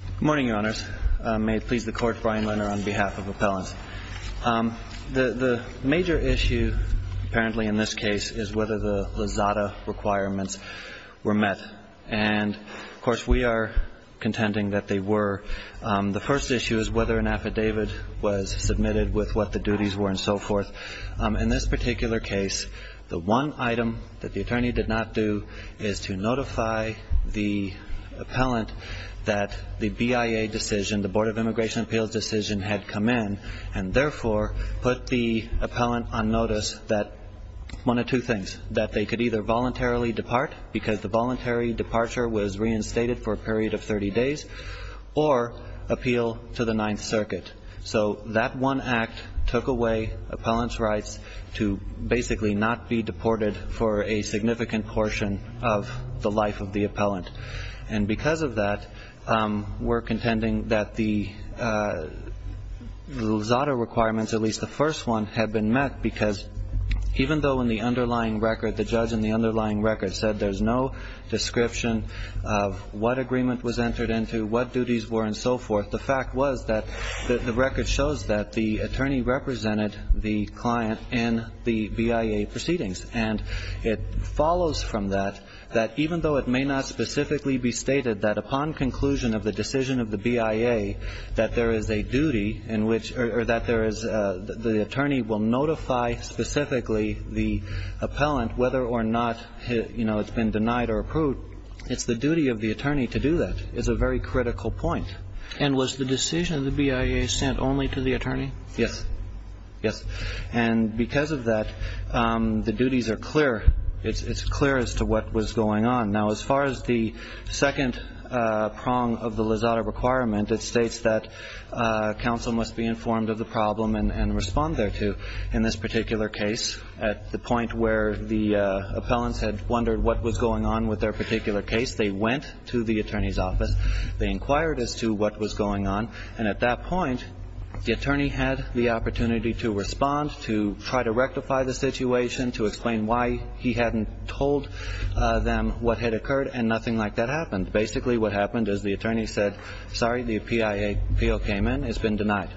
Good morning, Your Honors. May it please the Court, Brian Renner on behalf of appellants. The major issue, apparently in this case, is whether the Lizada requirements were met. And, of course, we are contending that they were. The first issue is whether an affidavit was submitted with what the duties were and so forth. In this particular case, the one item that the attorney did not do is to notify the appellant that the BIA decision, the Board of Immigration Appeals decision, had come in and therefore put the appellant on notice that one of two things, that they could either voluntarily depart because the voluntary departure was reinstated for a period of 30 days or appeal to the Ninth Circuit. So that one act took away appellant's rights to basically not be deported for a significant portion of the life of the appellant. And because of that, we're contending that the Lizada requirements, at least the first one, had been met because even though in the underlying record, the judge in the underlying record said there's no description of what agreement was entered into, what duties were and so forth, the fact was that the record shows that the attorney represented the client in the BIA proceedings. And it follows from that that even though it may not specifically be stated that upon conclusion of the decision of the BIA that there is a duty in which or that there is the attorney will notify specifically the appellant whether or not, you know, it's been denied or approved, it's the duty of the attorney to do that is a very critical point. And was the decision of the BIA sent only to the attorney? Yes. Yes. And because of that, the duties are clear. It's clear as to what was going on. Now, as far as the second prong of the Lizada requirement, it states that counsel must be informed of the problem and respond thereto. In this particular case, at the point where the appellants had wondered what was going on with their particular case, they went to the attorney's office. They inquired as to what was going on. And at that point, the attorney had the opportunity to respond, to try to rectify the situation, to explain why he hadn't told them what had occurred. And nothing like that happened. Basically what happened is the attorney said, sorry, the BIA appeal came in. It's been denied.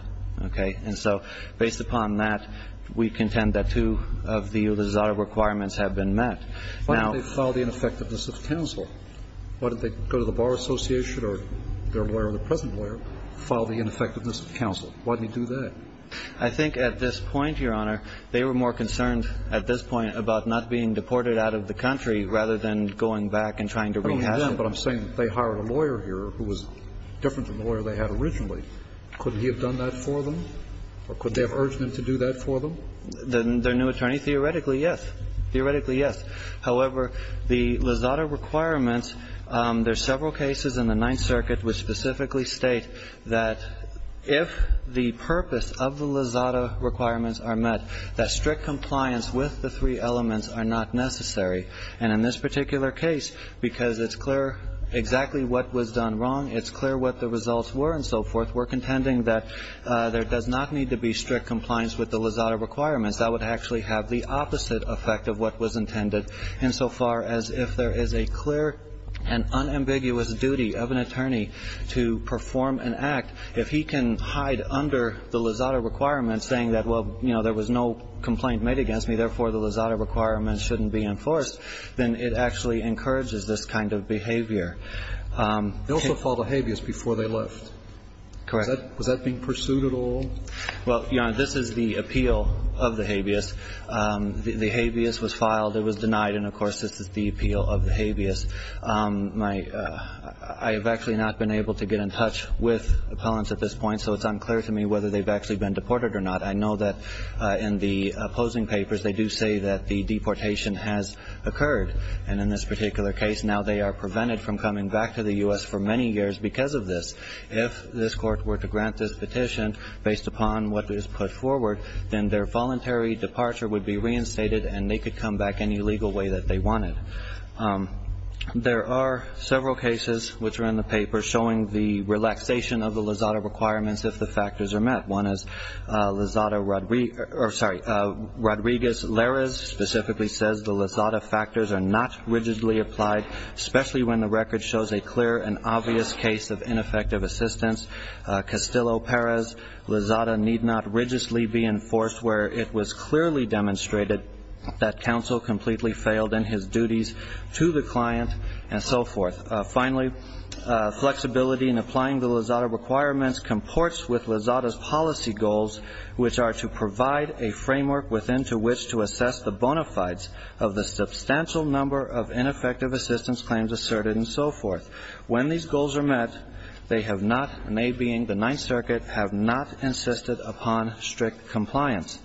Okay. And so based upon that, we contend that two of the Lizada requirements have been met. Why didn't they file the ineffectiveness of counsel? Why didn't they go to the Bar Association or their lawyer or the present lawyer, file the ineffectiveness of counsel? Why didn't he do that? I think at this point, Your Honor, they were more concerned at this point about not being deported out of the country rather than going back and trying to rehash it. I don't understand what I'm saying. They hired a lawyer here who was different from the lawyer they had originally. Couldn't he have done that for them? Or could they have urged them to do that for them? Their new attorney? Theoretically, yes. Theoretically, yes. However, the Lizada requirements, there are several cases in the Ninth Circuit which specifically state that if the purpose of the Lizada requirements are met, that strict compliance with the three elements are not necessary. And in this particular case, because it's clear exactly what was done wrong, it's clear what the results were and so forth, we're contending that there does not need to be strict compliance with the Lizada requirements. That would actually have the opposite effect of what was intended insofar as if there is a clear and unambiguous duty of an attorney to perform an act, if he can hide under the Lizada requirements saying that, well, you know, there was no complaint made against me, therefore the Lizada requirements shouldn't be enforced, then it actually encourages this kind of behavior. They also filed a habeas before they left. Correct. Was that being pursued at all? Well, Your Honor, this is the appeal of the habeas. The habeas was filed. It was denied. And, of course, this is the appeal of the habeas. I have actually not been able to get in touch with appellants at this point, so it's unclear to me whether they've actually been deported or not. I know that in the opposing papers, they do say that the deportation has occurred. And in this particular case, now they are prevented from coming back to the U.S. for many years because of this. If this court were to grant this petition based upon what is put forward, then their voluntary departure would be reinstated and they could come back any legal way that they wanted. There are several cases which are in the paper showing the relaxation of the Lizada requirements if the factors are met. One is Lizada Rodriguez-Larez specifically says the Lizada factors are not rigidly applied, especially when the record shows a clear and obvious case of ineffective assistance. Castillo-Perez, Lizada need not rigidly be enforced where it was clearly demonstrated that counsel completely failed in his duties to the client and so forth. Finally, flexibility in applying the Lizada requirements comports with Lizada's policy goals, which are to provide a framework within to which to assess the bona fides of the substantial number of ineffective assistance claims asserted and so forth. When these goals are met, they have not, and they being the Ninth Circuit, have not insisted upon strict compliance.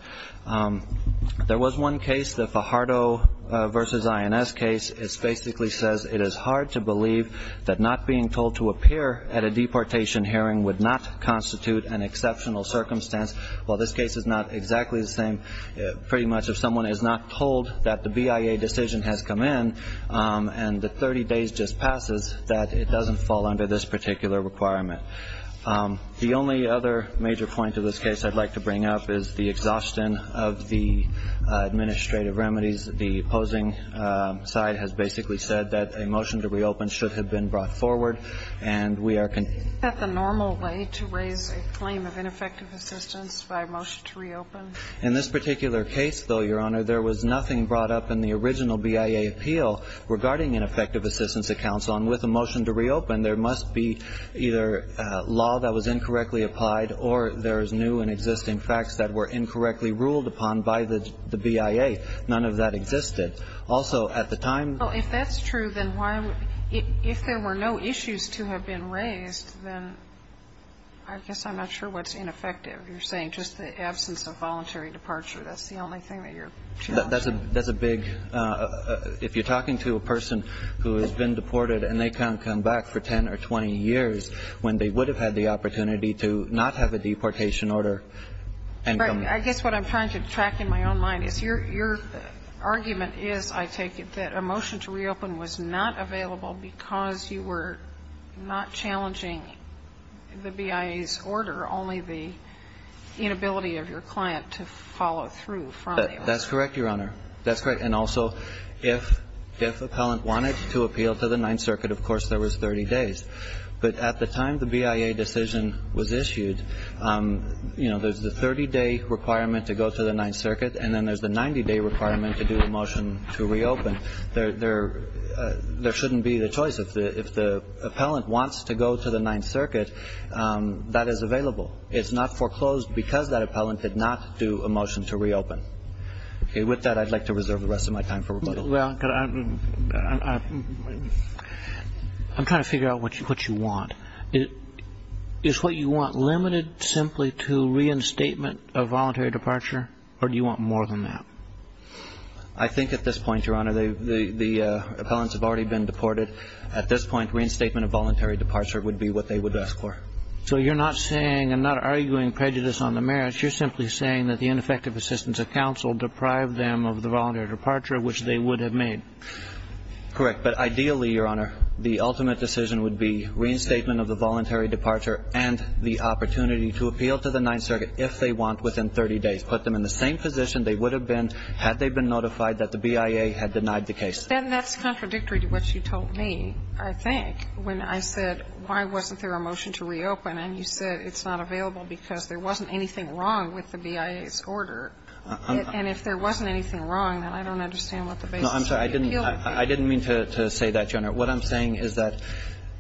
There was one case, the Fajardo v. INS case. It basically says it is hard to believe that not being told to appear at a deportation hearing would not constitute an exceptional circumstance. While this case is not exactly the same, pretty much if someone is not told that the BIA decision has come in and the 30 days just passes, that it doesn't fall under this particular requirement. The only other major point to this case I'd like to bring up is the exhaustion of the administrative remedies. The opposing side has basically said that a motion to reopen should have been brought forward, and we are concerned. Isn't that the normal way to raise a claim of ineffective assistance, by a motion to reopen? In this particular case, though, Your Honor, there was nothing brought up in the original BIA appeal regarding ineffective assistance at counsel. And with a motion to reopen, there must be either law that was incorrectly applied or there is new and existing facts that were incorrectly ruled upon by the BIA. None of that existed. Also, at the time of the appeal, the BIA did not have a motion to reopen. And if there were issues to have been raised, then I guess I'm not sure what's ineffective. You're saying just the absence of voluntary departure. That's the only thing that you're challenging. That's a big — if you're talking to a person who has been deported and they can't come back for 10 or 20 years when they would have had the opportunity to not have a deportation order and come back. I guess what I'm trying to track in my own mind is your argument is, I take it, that a motion to reopen was not available because you were not challenging the BIA's order, only the inability of your client to follow through from the order. That's correct, Your Honor. That's correct. And also, if appellant wanted to appeal to the Ninth Circuit, of course, there was 30 days. But at the time the BIA decision was issued, you know, there's the 30-day requirement to go to the Ninth Circuit, and then there's the 90-day requirement to do a motion to reopen. There shouldn't be the choice. If the appellant wants to go to the Ninth Circuit, that is available. It's not foreclosed because that appellant did not do a motion to reopen. With that, I'd like to reserve the rest of my time for rebuttal. Well, I'm trying to figure out what you want. Is what you want limited simply to reinstatement of voluntary departure, or do you want more than that? I think at this point, Your Honor, the appellants have already been deported. At this point, reinstatement of voluntary departure would be what they would ask for. So you're not saying, I'm not arguing prejudice on the merits. You're simply saying that the ineffective assistance of counsel deprived them of the voluntary departure, which they would have made. Correct. But ideally, Your Honor, the ultimate decision would be reinstatement of the voluntary departure and the opportunity to appeal to the Ninth Circuit if they want within 30 days. That's what I'm saying. I'm just saying that they would have been in the same position if they had been notified that the BIA had denied the case. But then that's contradictory to what you told me, I think, when I said, why wasn't there a motion to reopen? And you said it's not available because there wasn't anything wrong with the BIA's order. And if there wasn't anything wrong, then I don't understand what the basis would be to appeal. No, I'm sorry. I didn't mean to say that, Your Honor. What I'm saying is that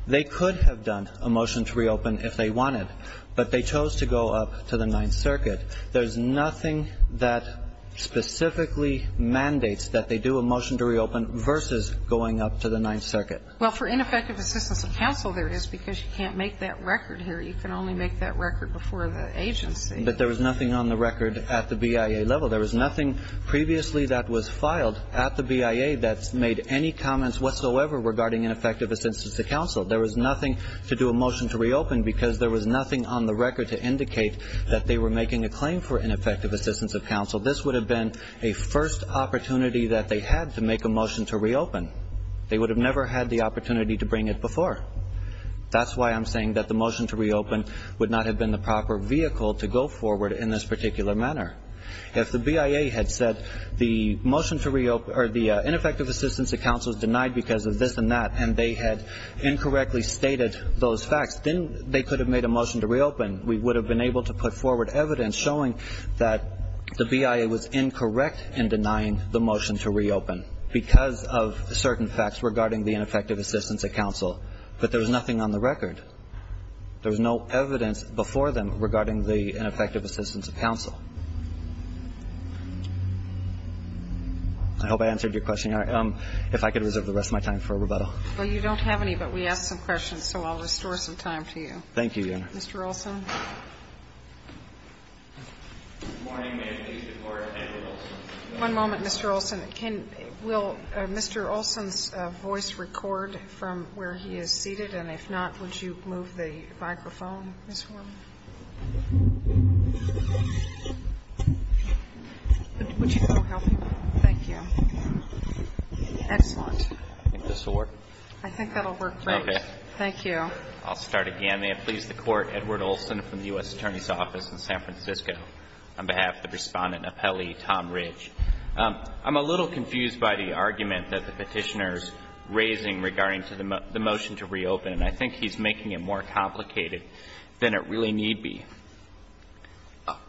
they could have done a motion to reopen if they wanted, but they chose to go up to the Ninth Circuit. There's nothing that specifically mandates that they do a motion to reopen versus going up to the Ninth Circuit. Well, for ineffective assistance of counsel, there is, because you can't make that record here. You can only make that record before the agency. But there was nothing on the record at the BIA level. There was nothing previously that was filed at the BIA that made any comments whatsoever regarding ineffective assistance of counsel. There was nothing to do a motion to reopen because there was nothing on the record to indicate that they were making a claim for ineffective assistance of counsel. This would have been a first opportunity that they had to make a motion to reopen. They would have never had the opportunity to bring it before. That's why I'm saying that the motion to reopen would not have been the proper vehicle to go forward in this particular manner. If the BIA had said the ineffective assistance of counsel is denied because of this and that, and they had incorrectly stated those facts, then they could have made a motion to reopen. We would have been able to put forward evidence showing that the BIA was incorrect in denying the motion to reopen because of certain facts regarding the ineffective assistance of counsel. But there was nothing on the record. There was no evidence before them regarding the ineffective assistance of counsel. I hope I answered your question, Your Honor. If I could reserve the rest of my time for rebuttal. Well, you don't have any, but we asked some questions, so I'll restore some time to you. Thank you, Your Honor. Mr. Olson. Good morning. May it please the Court, Andrew Olson. One moment, Mr. Olson. Will Mr. Olson's voice record from where he is seated? And if not, would you move the microphone, Ms. Horman? Would you go help him? Thank you. Excellent. I think this will work. I think that will work great. Okay. Thank you. I'll start again. May it please the Court, Edward Olson from the U.S. Attorney's Office in San Francisco, on behalf of the Respondent and Appellee, Tom Ridge. I'm a little confused by the argument that the Petitioner is raising regarding the motion to reopen, and I think he's making it more complicated than it really need be.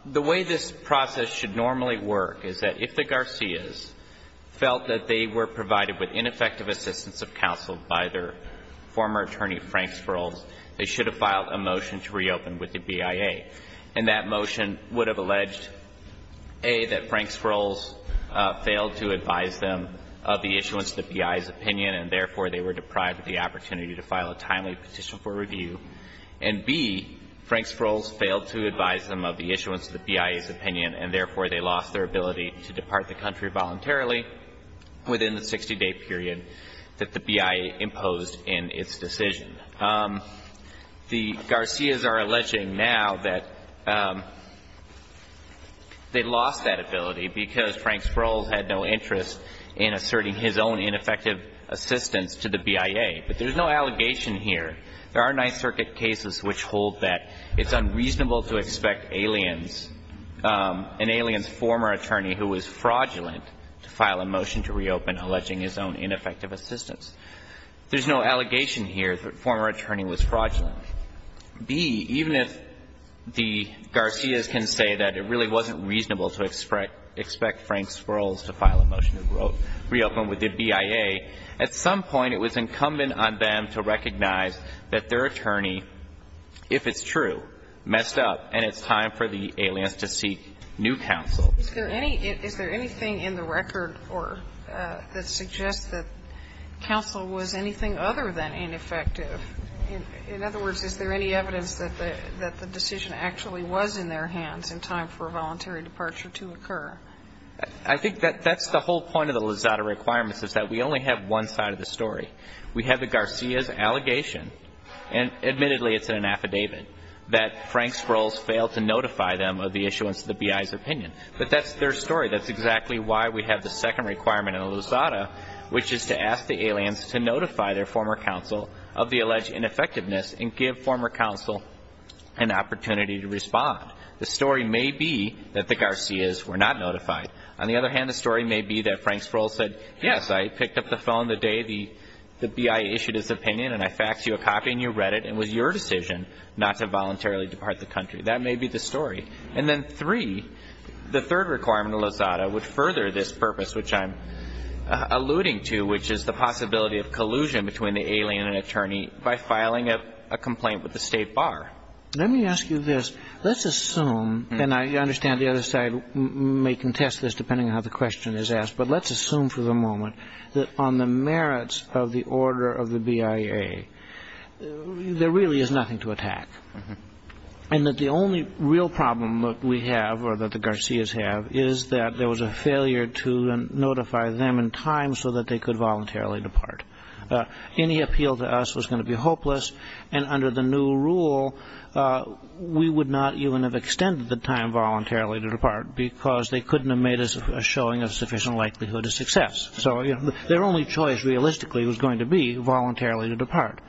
The way this process should normally work is that if the Garcias felt that they were provided with ineffective assistance of counsel by their former attorney, Frank Sprouls, they should have filed a motion to reopen with the BIA. And that motion would have alleged, A, that Frank Sprouls failed to advise them of the issuance of the BIA's opinion and, therefore, they were deprived of the opportunity to file a timely petition for review, and, B, Frank Sprouls failed to advise them of the issuance of the BIA's opinion and, therefore, they lost their ability to depart the country voluntarily within the 60-day period that the BIA imposed in its decision. The Garcias are alleging now that they lost that ability because Frank Sprouls had no interest in asserting his own ineffective assistance to the BIA. But there's no allegation here. There are Ninth Circuit cases which hold that it's unreasonable to expect aliens an alien's former attorney who was fraudulent to file a motion to reopen alleging his own ineffective assistance. There's no allegation here that former attorney was fraudulent. B, even if the Garcias can say that it really wasn't reasonable to expect Frank Sprouls to file a motion to reopen with the BIA, at some point it was incumbent on them to recognize that their attorney, if it's true, messed up and it's time for the aliens to seek new counsel. Is there anything in the record that suggests that counsel was anything other than ineffective? In other words, is there any evidence that the decision actually was in their hands in time for a voluntary departure to occur? I think that's the whole point of the Lizada requirements, is that we only have one side of the story. We have the Garcias' allegation, and admittedly it's in an affidavit, that Frank Sprouls failed to notify them of the issuance of the BIA's opinion. But that's their story. That's exactly why we have the second requirement in the Lizada, which is to ask the aliens to notify their former counsel of the alleged ineffectiveness and give former counsel an opportunity to respond. The story may be that the Garcias were not notified. On the other hand, the story may be that Frank Sprouls said, yes, I picked up the phone the day the BIA issued its opinion and I faxed you a copy and you read it and it was your decision not to voluntarily depart the country. That may be the story. And then three, the third requirement in the Lizada would further this purpose, which I'm alluding to, which is the possibility of collusion between the alien and attorney by filing a complaint with the State Bar. Let me ask you this. Let's assume, and I understand the other side may contest this depending on how the question is asked, but let's assume for the moment that on the merits of the order of the BIA, there really is nothing to attack and that the only real problem that we have or that the Garcias have is that there was a failure to notify them in time so that they could voluntarily depart. Any appeal to us was going to be hopeless, and under the new rule we would not even have extended the time voluntarily to depart because they couldn't have made a showing of sufficient likelihood of success. So their only choice realistically was going to be voluntarily to depart.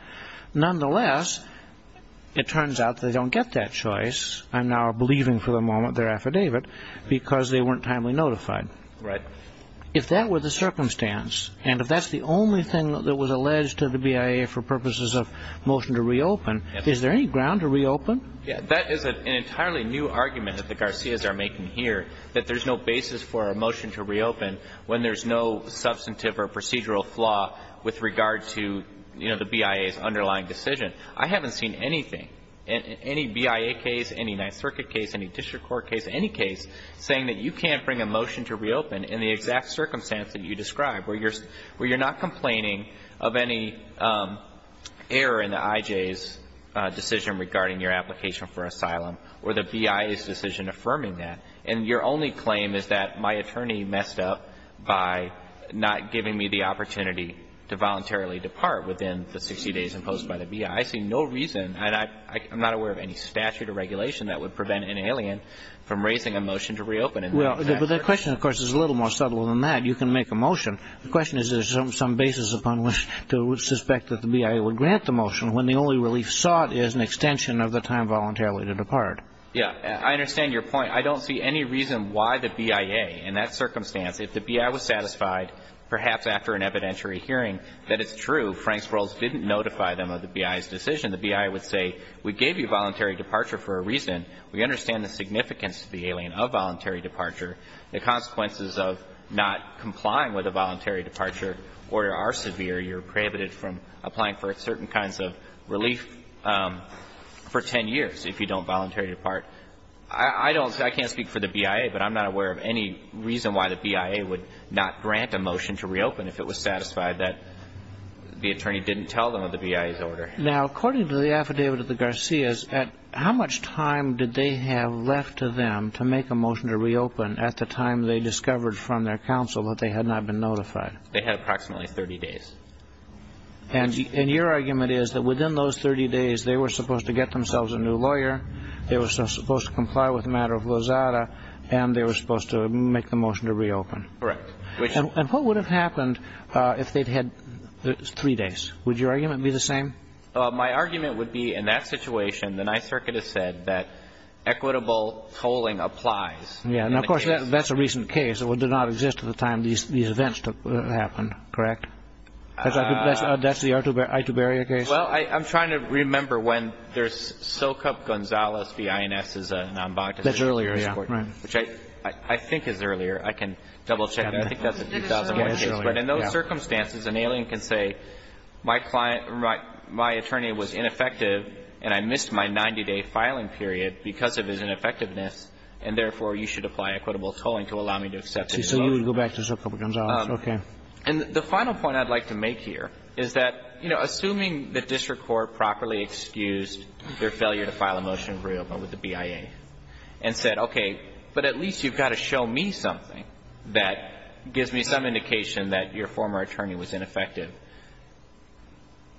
Nonetheless, it turns out they don't get that choice. I'm now believing for the moment their affidavit because they weren't timely notified. If that were the circumstance and if that's the only thing that was alleged to the BIA for purposes of motion to reopen, is there any ground to reopen? That is an entirely new argument that the Garcias are making here, that there's no basis for a motion to reopen when there's no substantive or procedural flaw with regard to, you know, the BIA's underlying decision. I haven't seen anything, any BIA case, any Ninth Circuit case, any district court case, any case saying that you can't bring a motion to reopen in the exact circumstance that you described where you're not complaining of any error in the IJ's decision regarding your application for asylum or the BIA's decision affirming that and your only claim is that my attorney messed up by not giving me the opportunity to voluntarily depart within the 60 days imposed by the BIA. I see no reason, and I'm not aware of any statute or regulation that would prevent an alien from raising a motion to reopen. Well, the question, of course, is a little more subtle than that. You can make a motion. The question is there's some basis upon which to suspect that the BIA would grant the motion when the only relief sought is an extension of the time voluntarily to depart. Yeah, I understand your point. I don't see any reason why the BIA, in that circumstance, if the BIA was satisfied, perhaps after an evidentiary hearing, that it's true, Frank's rules didn't notify them of the BIA's decision. The BIA would say we gave you voluntary departure for a reason. We understand the significance to the alien of voluntary departure. The consequences of not complying with a voluntary departure order are severe. You're prohibited from applying for certain kinds of relief for 10 years if you don't voluntarily depart. I can't speak for the BIA, but I'm not aware of any reason why the BIA would not grant a motion to reopen if it was satisfied that the attorney didn't tell them of the BIA's order. Now, according to the affidavit of the Garcias, how much time did they have left to them to make a motion to reopen at the time they discovered from their counsel that they had not been notified? They had approximately 30 days. And your argument is that within those 30 days they were supposed to get themselves a new lawyer. They were supposed to comply with the matter of Lozada, and they were supposed to make the motion to reopen. Correct. And what would have happened if they'd had three days? Would your argument be the same? My argument would be in that situation, the Ninth Circuit has said that equitable tolling applies. Yeah. And, of course, that's a recent case. It did not exist at the time these events happened. Correct? That's the Ituberia case? Well, I'm trying to remember when there's Socup-Gonzalez v. INS is a non-bond. That's earlier, yeah. Which I think is earlier. I can double-check that. I think that's a 2001 case. But in those circumstances, an alien can say my client or my attorney was ineffective and I missed my 90-day filing period because of his ineffectiveness, and therefore you should apply equitable tolling to allow me to accept it. So you would go back to Socup-Gonzalez. Okay. And the final point I'd like to make here is that, you know, assuming the district court properly excused their failure to file a motion of reopen with the BIA and said, okay, but at least you've got to show me something that gives me some indication that your former attorney was ineffective,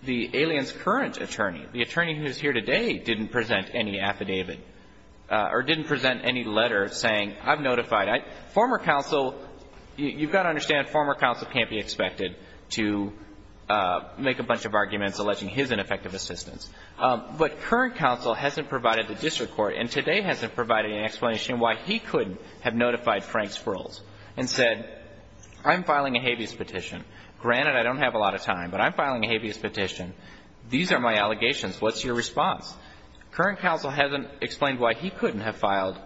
the alien's current attorney, the attorney who is here today, didn't present any affidavit or didn't present any letter saying I've notified. Former counsel, you've got to understand, former counsel can't be expected to make a bunch of arguments alleging his ineffective assistance. But current counsel hasn't provided the district court and today hasn't provided any explanation why he couldn't have notified Frank Sprouls and said, I'm filing a habeas petition. Granted, I don't have a lot of time, but I'm filing a habeas petition. These are my allegations. What's your response? Current counsel hasn't explained why he couldn't have filed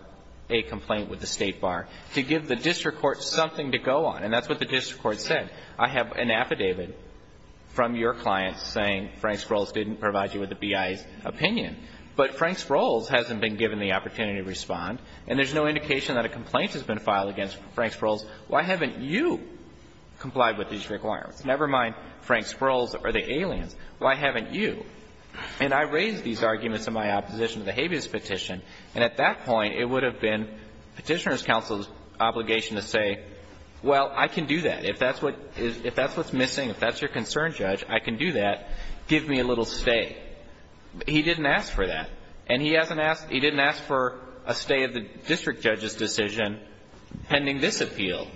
a complaint with the state bar to give the district court something to go on. And that's what the district court said. I have an affidavit from your client saying Frank Sprouls didn't provide you with the BIA's opinion. But Frank Sprouls hasn't been given the opportunity to respond, and there's no indication that a complaint has been filed against Frank Sprouls. Why haven't you complied with these requirements? Never mind Frank Sprouls or the aliens. Why haven't you? And I raised these arguments in my opposition to the habeas petition, and at that point, it would have been Petitioner's counsel's obligation to say, well, I can do that. If that's what's missing, if that's your concern, Judge, I can do that. Give me a little stay. He didn't ask for that. And he didn't ask for a stay of the district judge's decision pending this appeal.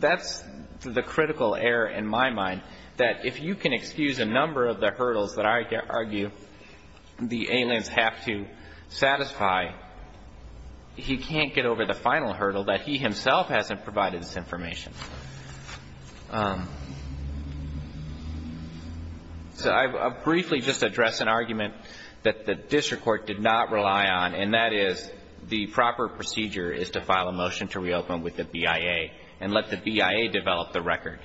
That's the critical error in my mind, that if you can excuse a number of the hurdles that I argue the aliens have to satisfy, he can't get over the final hurdle, that he himself hasn't provided this information. So I'll briefly just address an argument that the district court did not rely on, and that is, the proper procedure is to file a motion to reopen with the BIA and let the BIA develop the record.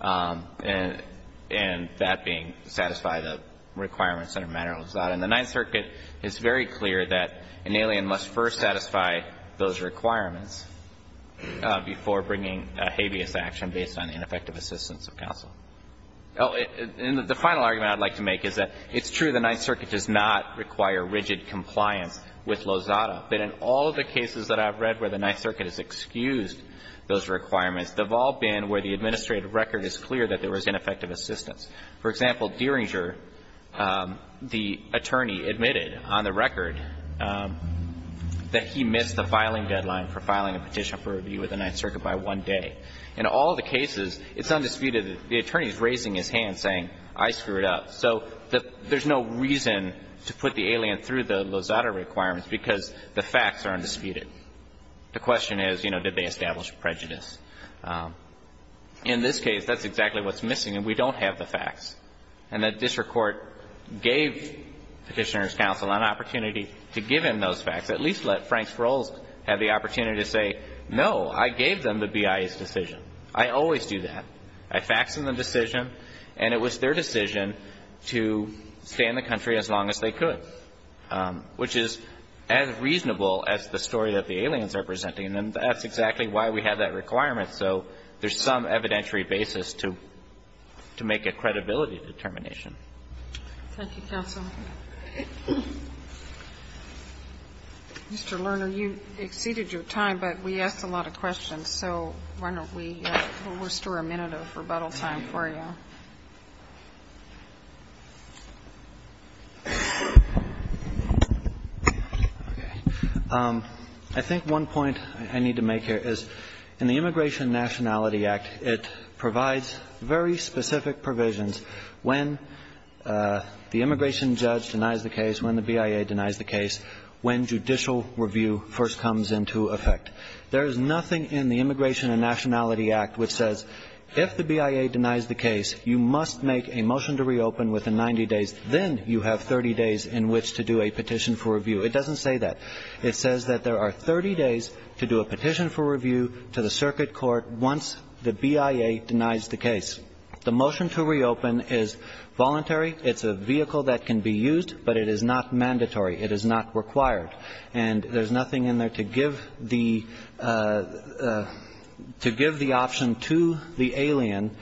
And that being satisfy the requirements under Manor Lozada. And the Ninth Circuit is very clear that an alien must first satisfy those requirements before bringing a habeas action based on ineffective assistance of counsel. And the final argument I'd like to make is that it's true the Ninth Circuit does not require rigid compliance with Lozada, but in all of the cases that I've read where the Ninth Circuit has excused those requirements, they've all been where the administrative record is clear that there was ineffective assistance. For example, Derringer, the attorney, admitted on the record that he missed the filing deadline for filing a petition for review with the Ninth Circuit by one day. In all the cases, it's undisputed that the attorney is raising his hand, saying, I screwed up. So there's no reason to put the alien through the Lozada requirements, because the facts are undisputed. The question is, you know, did they establish prejudice? In this case, that's exactly what's missing, and we don't have the facts. And the district court gave Petitioner's counsel an opportunity to give him those facts, at least let Franks Roles have the opportunity to say, no, I gave them the BIA's decision. I always do that. I faxed them the decision, and it was their decision to stay in the country as long as they could, which is as reasonable as the story that the aliens are presenting, and that's exactly why we have that requirement. So there's some evidentiary basis to make a credibility determination. Thank you, counsel. Mr. Lerner, you exceeded your time, but we asked a lot of questions. So why don't we restore a minute of rebuttal time for you? Okay. I think one point I need to make here is in the Immigration Nationality Act, it provides very specific provisions when the immigration judge denies the case, when the BIA denies the case, when judicial review first comes into effect. There is nothing in the Immigration and Nationality Act which says if the BIA denies the case, you must make a motion to reopen within 90 days. Then you have 30 days in which to do a petition for review. It doesn't say that. It says that there are 30 days to do a petition for review to the circuit court once the BIA denies the case. The motion to reopen is voluntary. It's a vehicle that can be used, but it is not mandatory. It is not required. And there's nothing in there to give the option to the alien.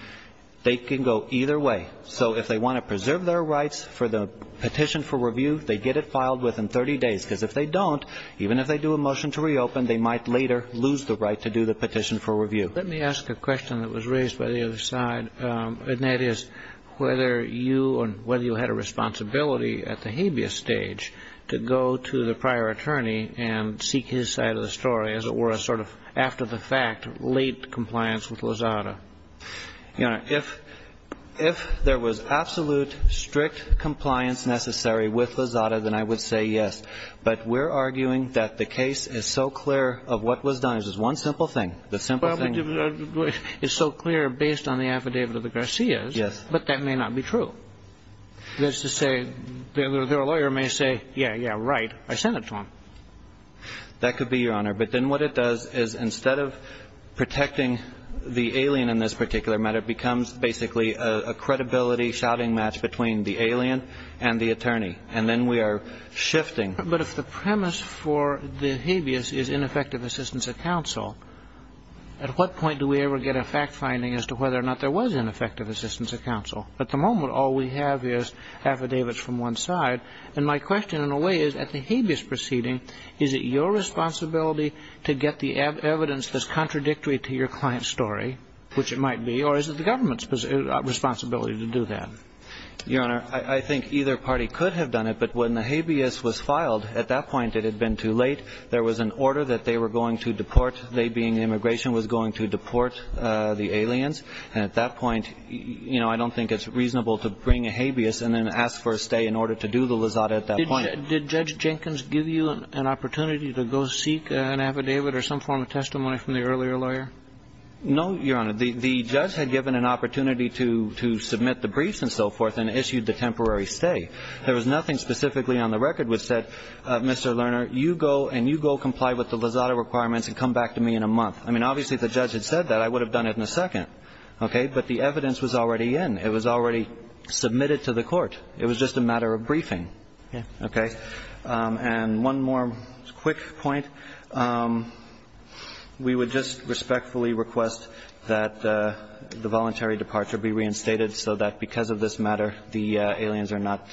They can go either way. So if they want to preserve their rights for the petition for review, they get it filed within 30 days, because if they don't, even if they do a motion to reopen, they might later lose the right to do the petition for review. Let me ask a question that was raised by the other side, and that is whether you and whether you had a responsibility at the habeas stage to go to the prior attorney and seek his side of the story, as it were, a sort of after-the-fact, late compliance with Lozada. Your Honor, if there was absolute, strict compliance necessary with Lozada, then I would say yes. But we're arguing that the case is so clear of what was done. This is one simple thing. The simple thing is so clear based on the affidavit of the Garcias. Yes. But that may not be true. That is to say, their lawyer may say, yeah, yeah, right. I sent it to him. That could be, Your Honor. But then what it does is instead of protecting the alien in this particular matter, it becomes basically a credibility shouting match between the alien and the attorney. And then we are shifting. But if the premise for the habeas is ineffective assistance of counsel, at what point do we ever get a fact finding as to whether or not there was ineffective assistance of counsel? At the moment, all we have is affidavits from one side. And my question, in a way, is at the habeas proceeding, is it your responsibility to get the evidence that's contradictory to your client's story, which it might be, or is it the government's responsibility to do that? Your Honor, I think either party could have done it. But when the habeas was filed, at that point it had been too late. There was an order that they were going to deport. They being the immigration was going to deport the aliens. And at that point, you know, I don't think it's reasonable to bring a habeas and then ask for a stay in order to do the lasada at that point. Did Judge Jenkins give you an opportunity to go seek an affidavit or some form of testimony from the earlier lawyer? No, Your Honor. The judge had given an opportunity to submit the briefs and so forth and issued the temporary stay. There was nothing specifically on the record which said, Mr. Lerner, you go and you comply with the lasada requirements and come back to me in a month. I mean, obviously, if the judge had said that, I would have done it in a second. Okay. But the evidence was already in. It was already submitted to the court. It was just a matter of briefing. Okay. And one more quick point. We would just respectfully request that the voluntary departure be reinstated so that because of this matter, the aliens are not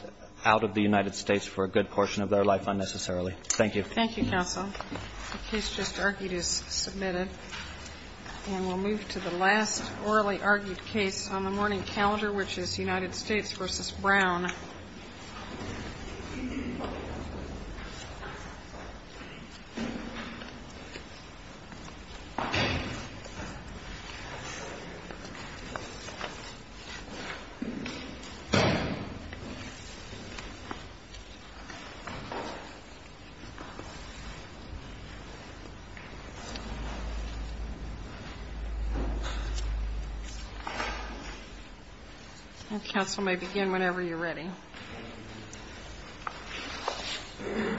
out of the United States for a good portion of their life unnecessarily. Thank you. Thank you, counsel. The case just argued is submitted. And we'll move to the last orally argued case on the morning calendar, which is United States v. Brown. Counsel may begin whenever you're ready.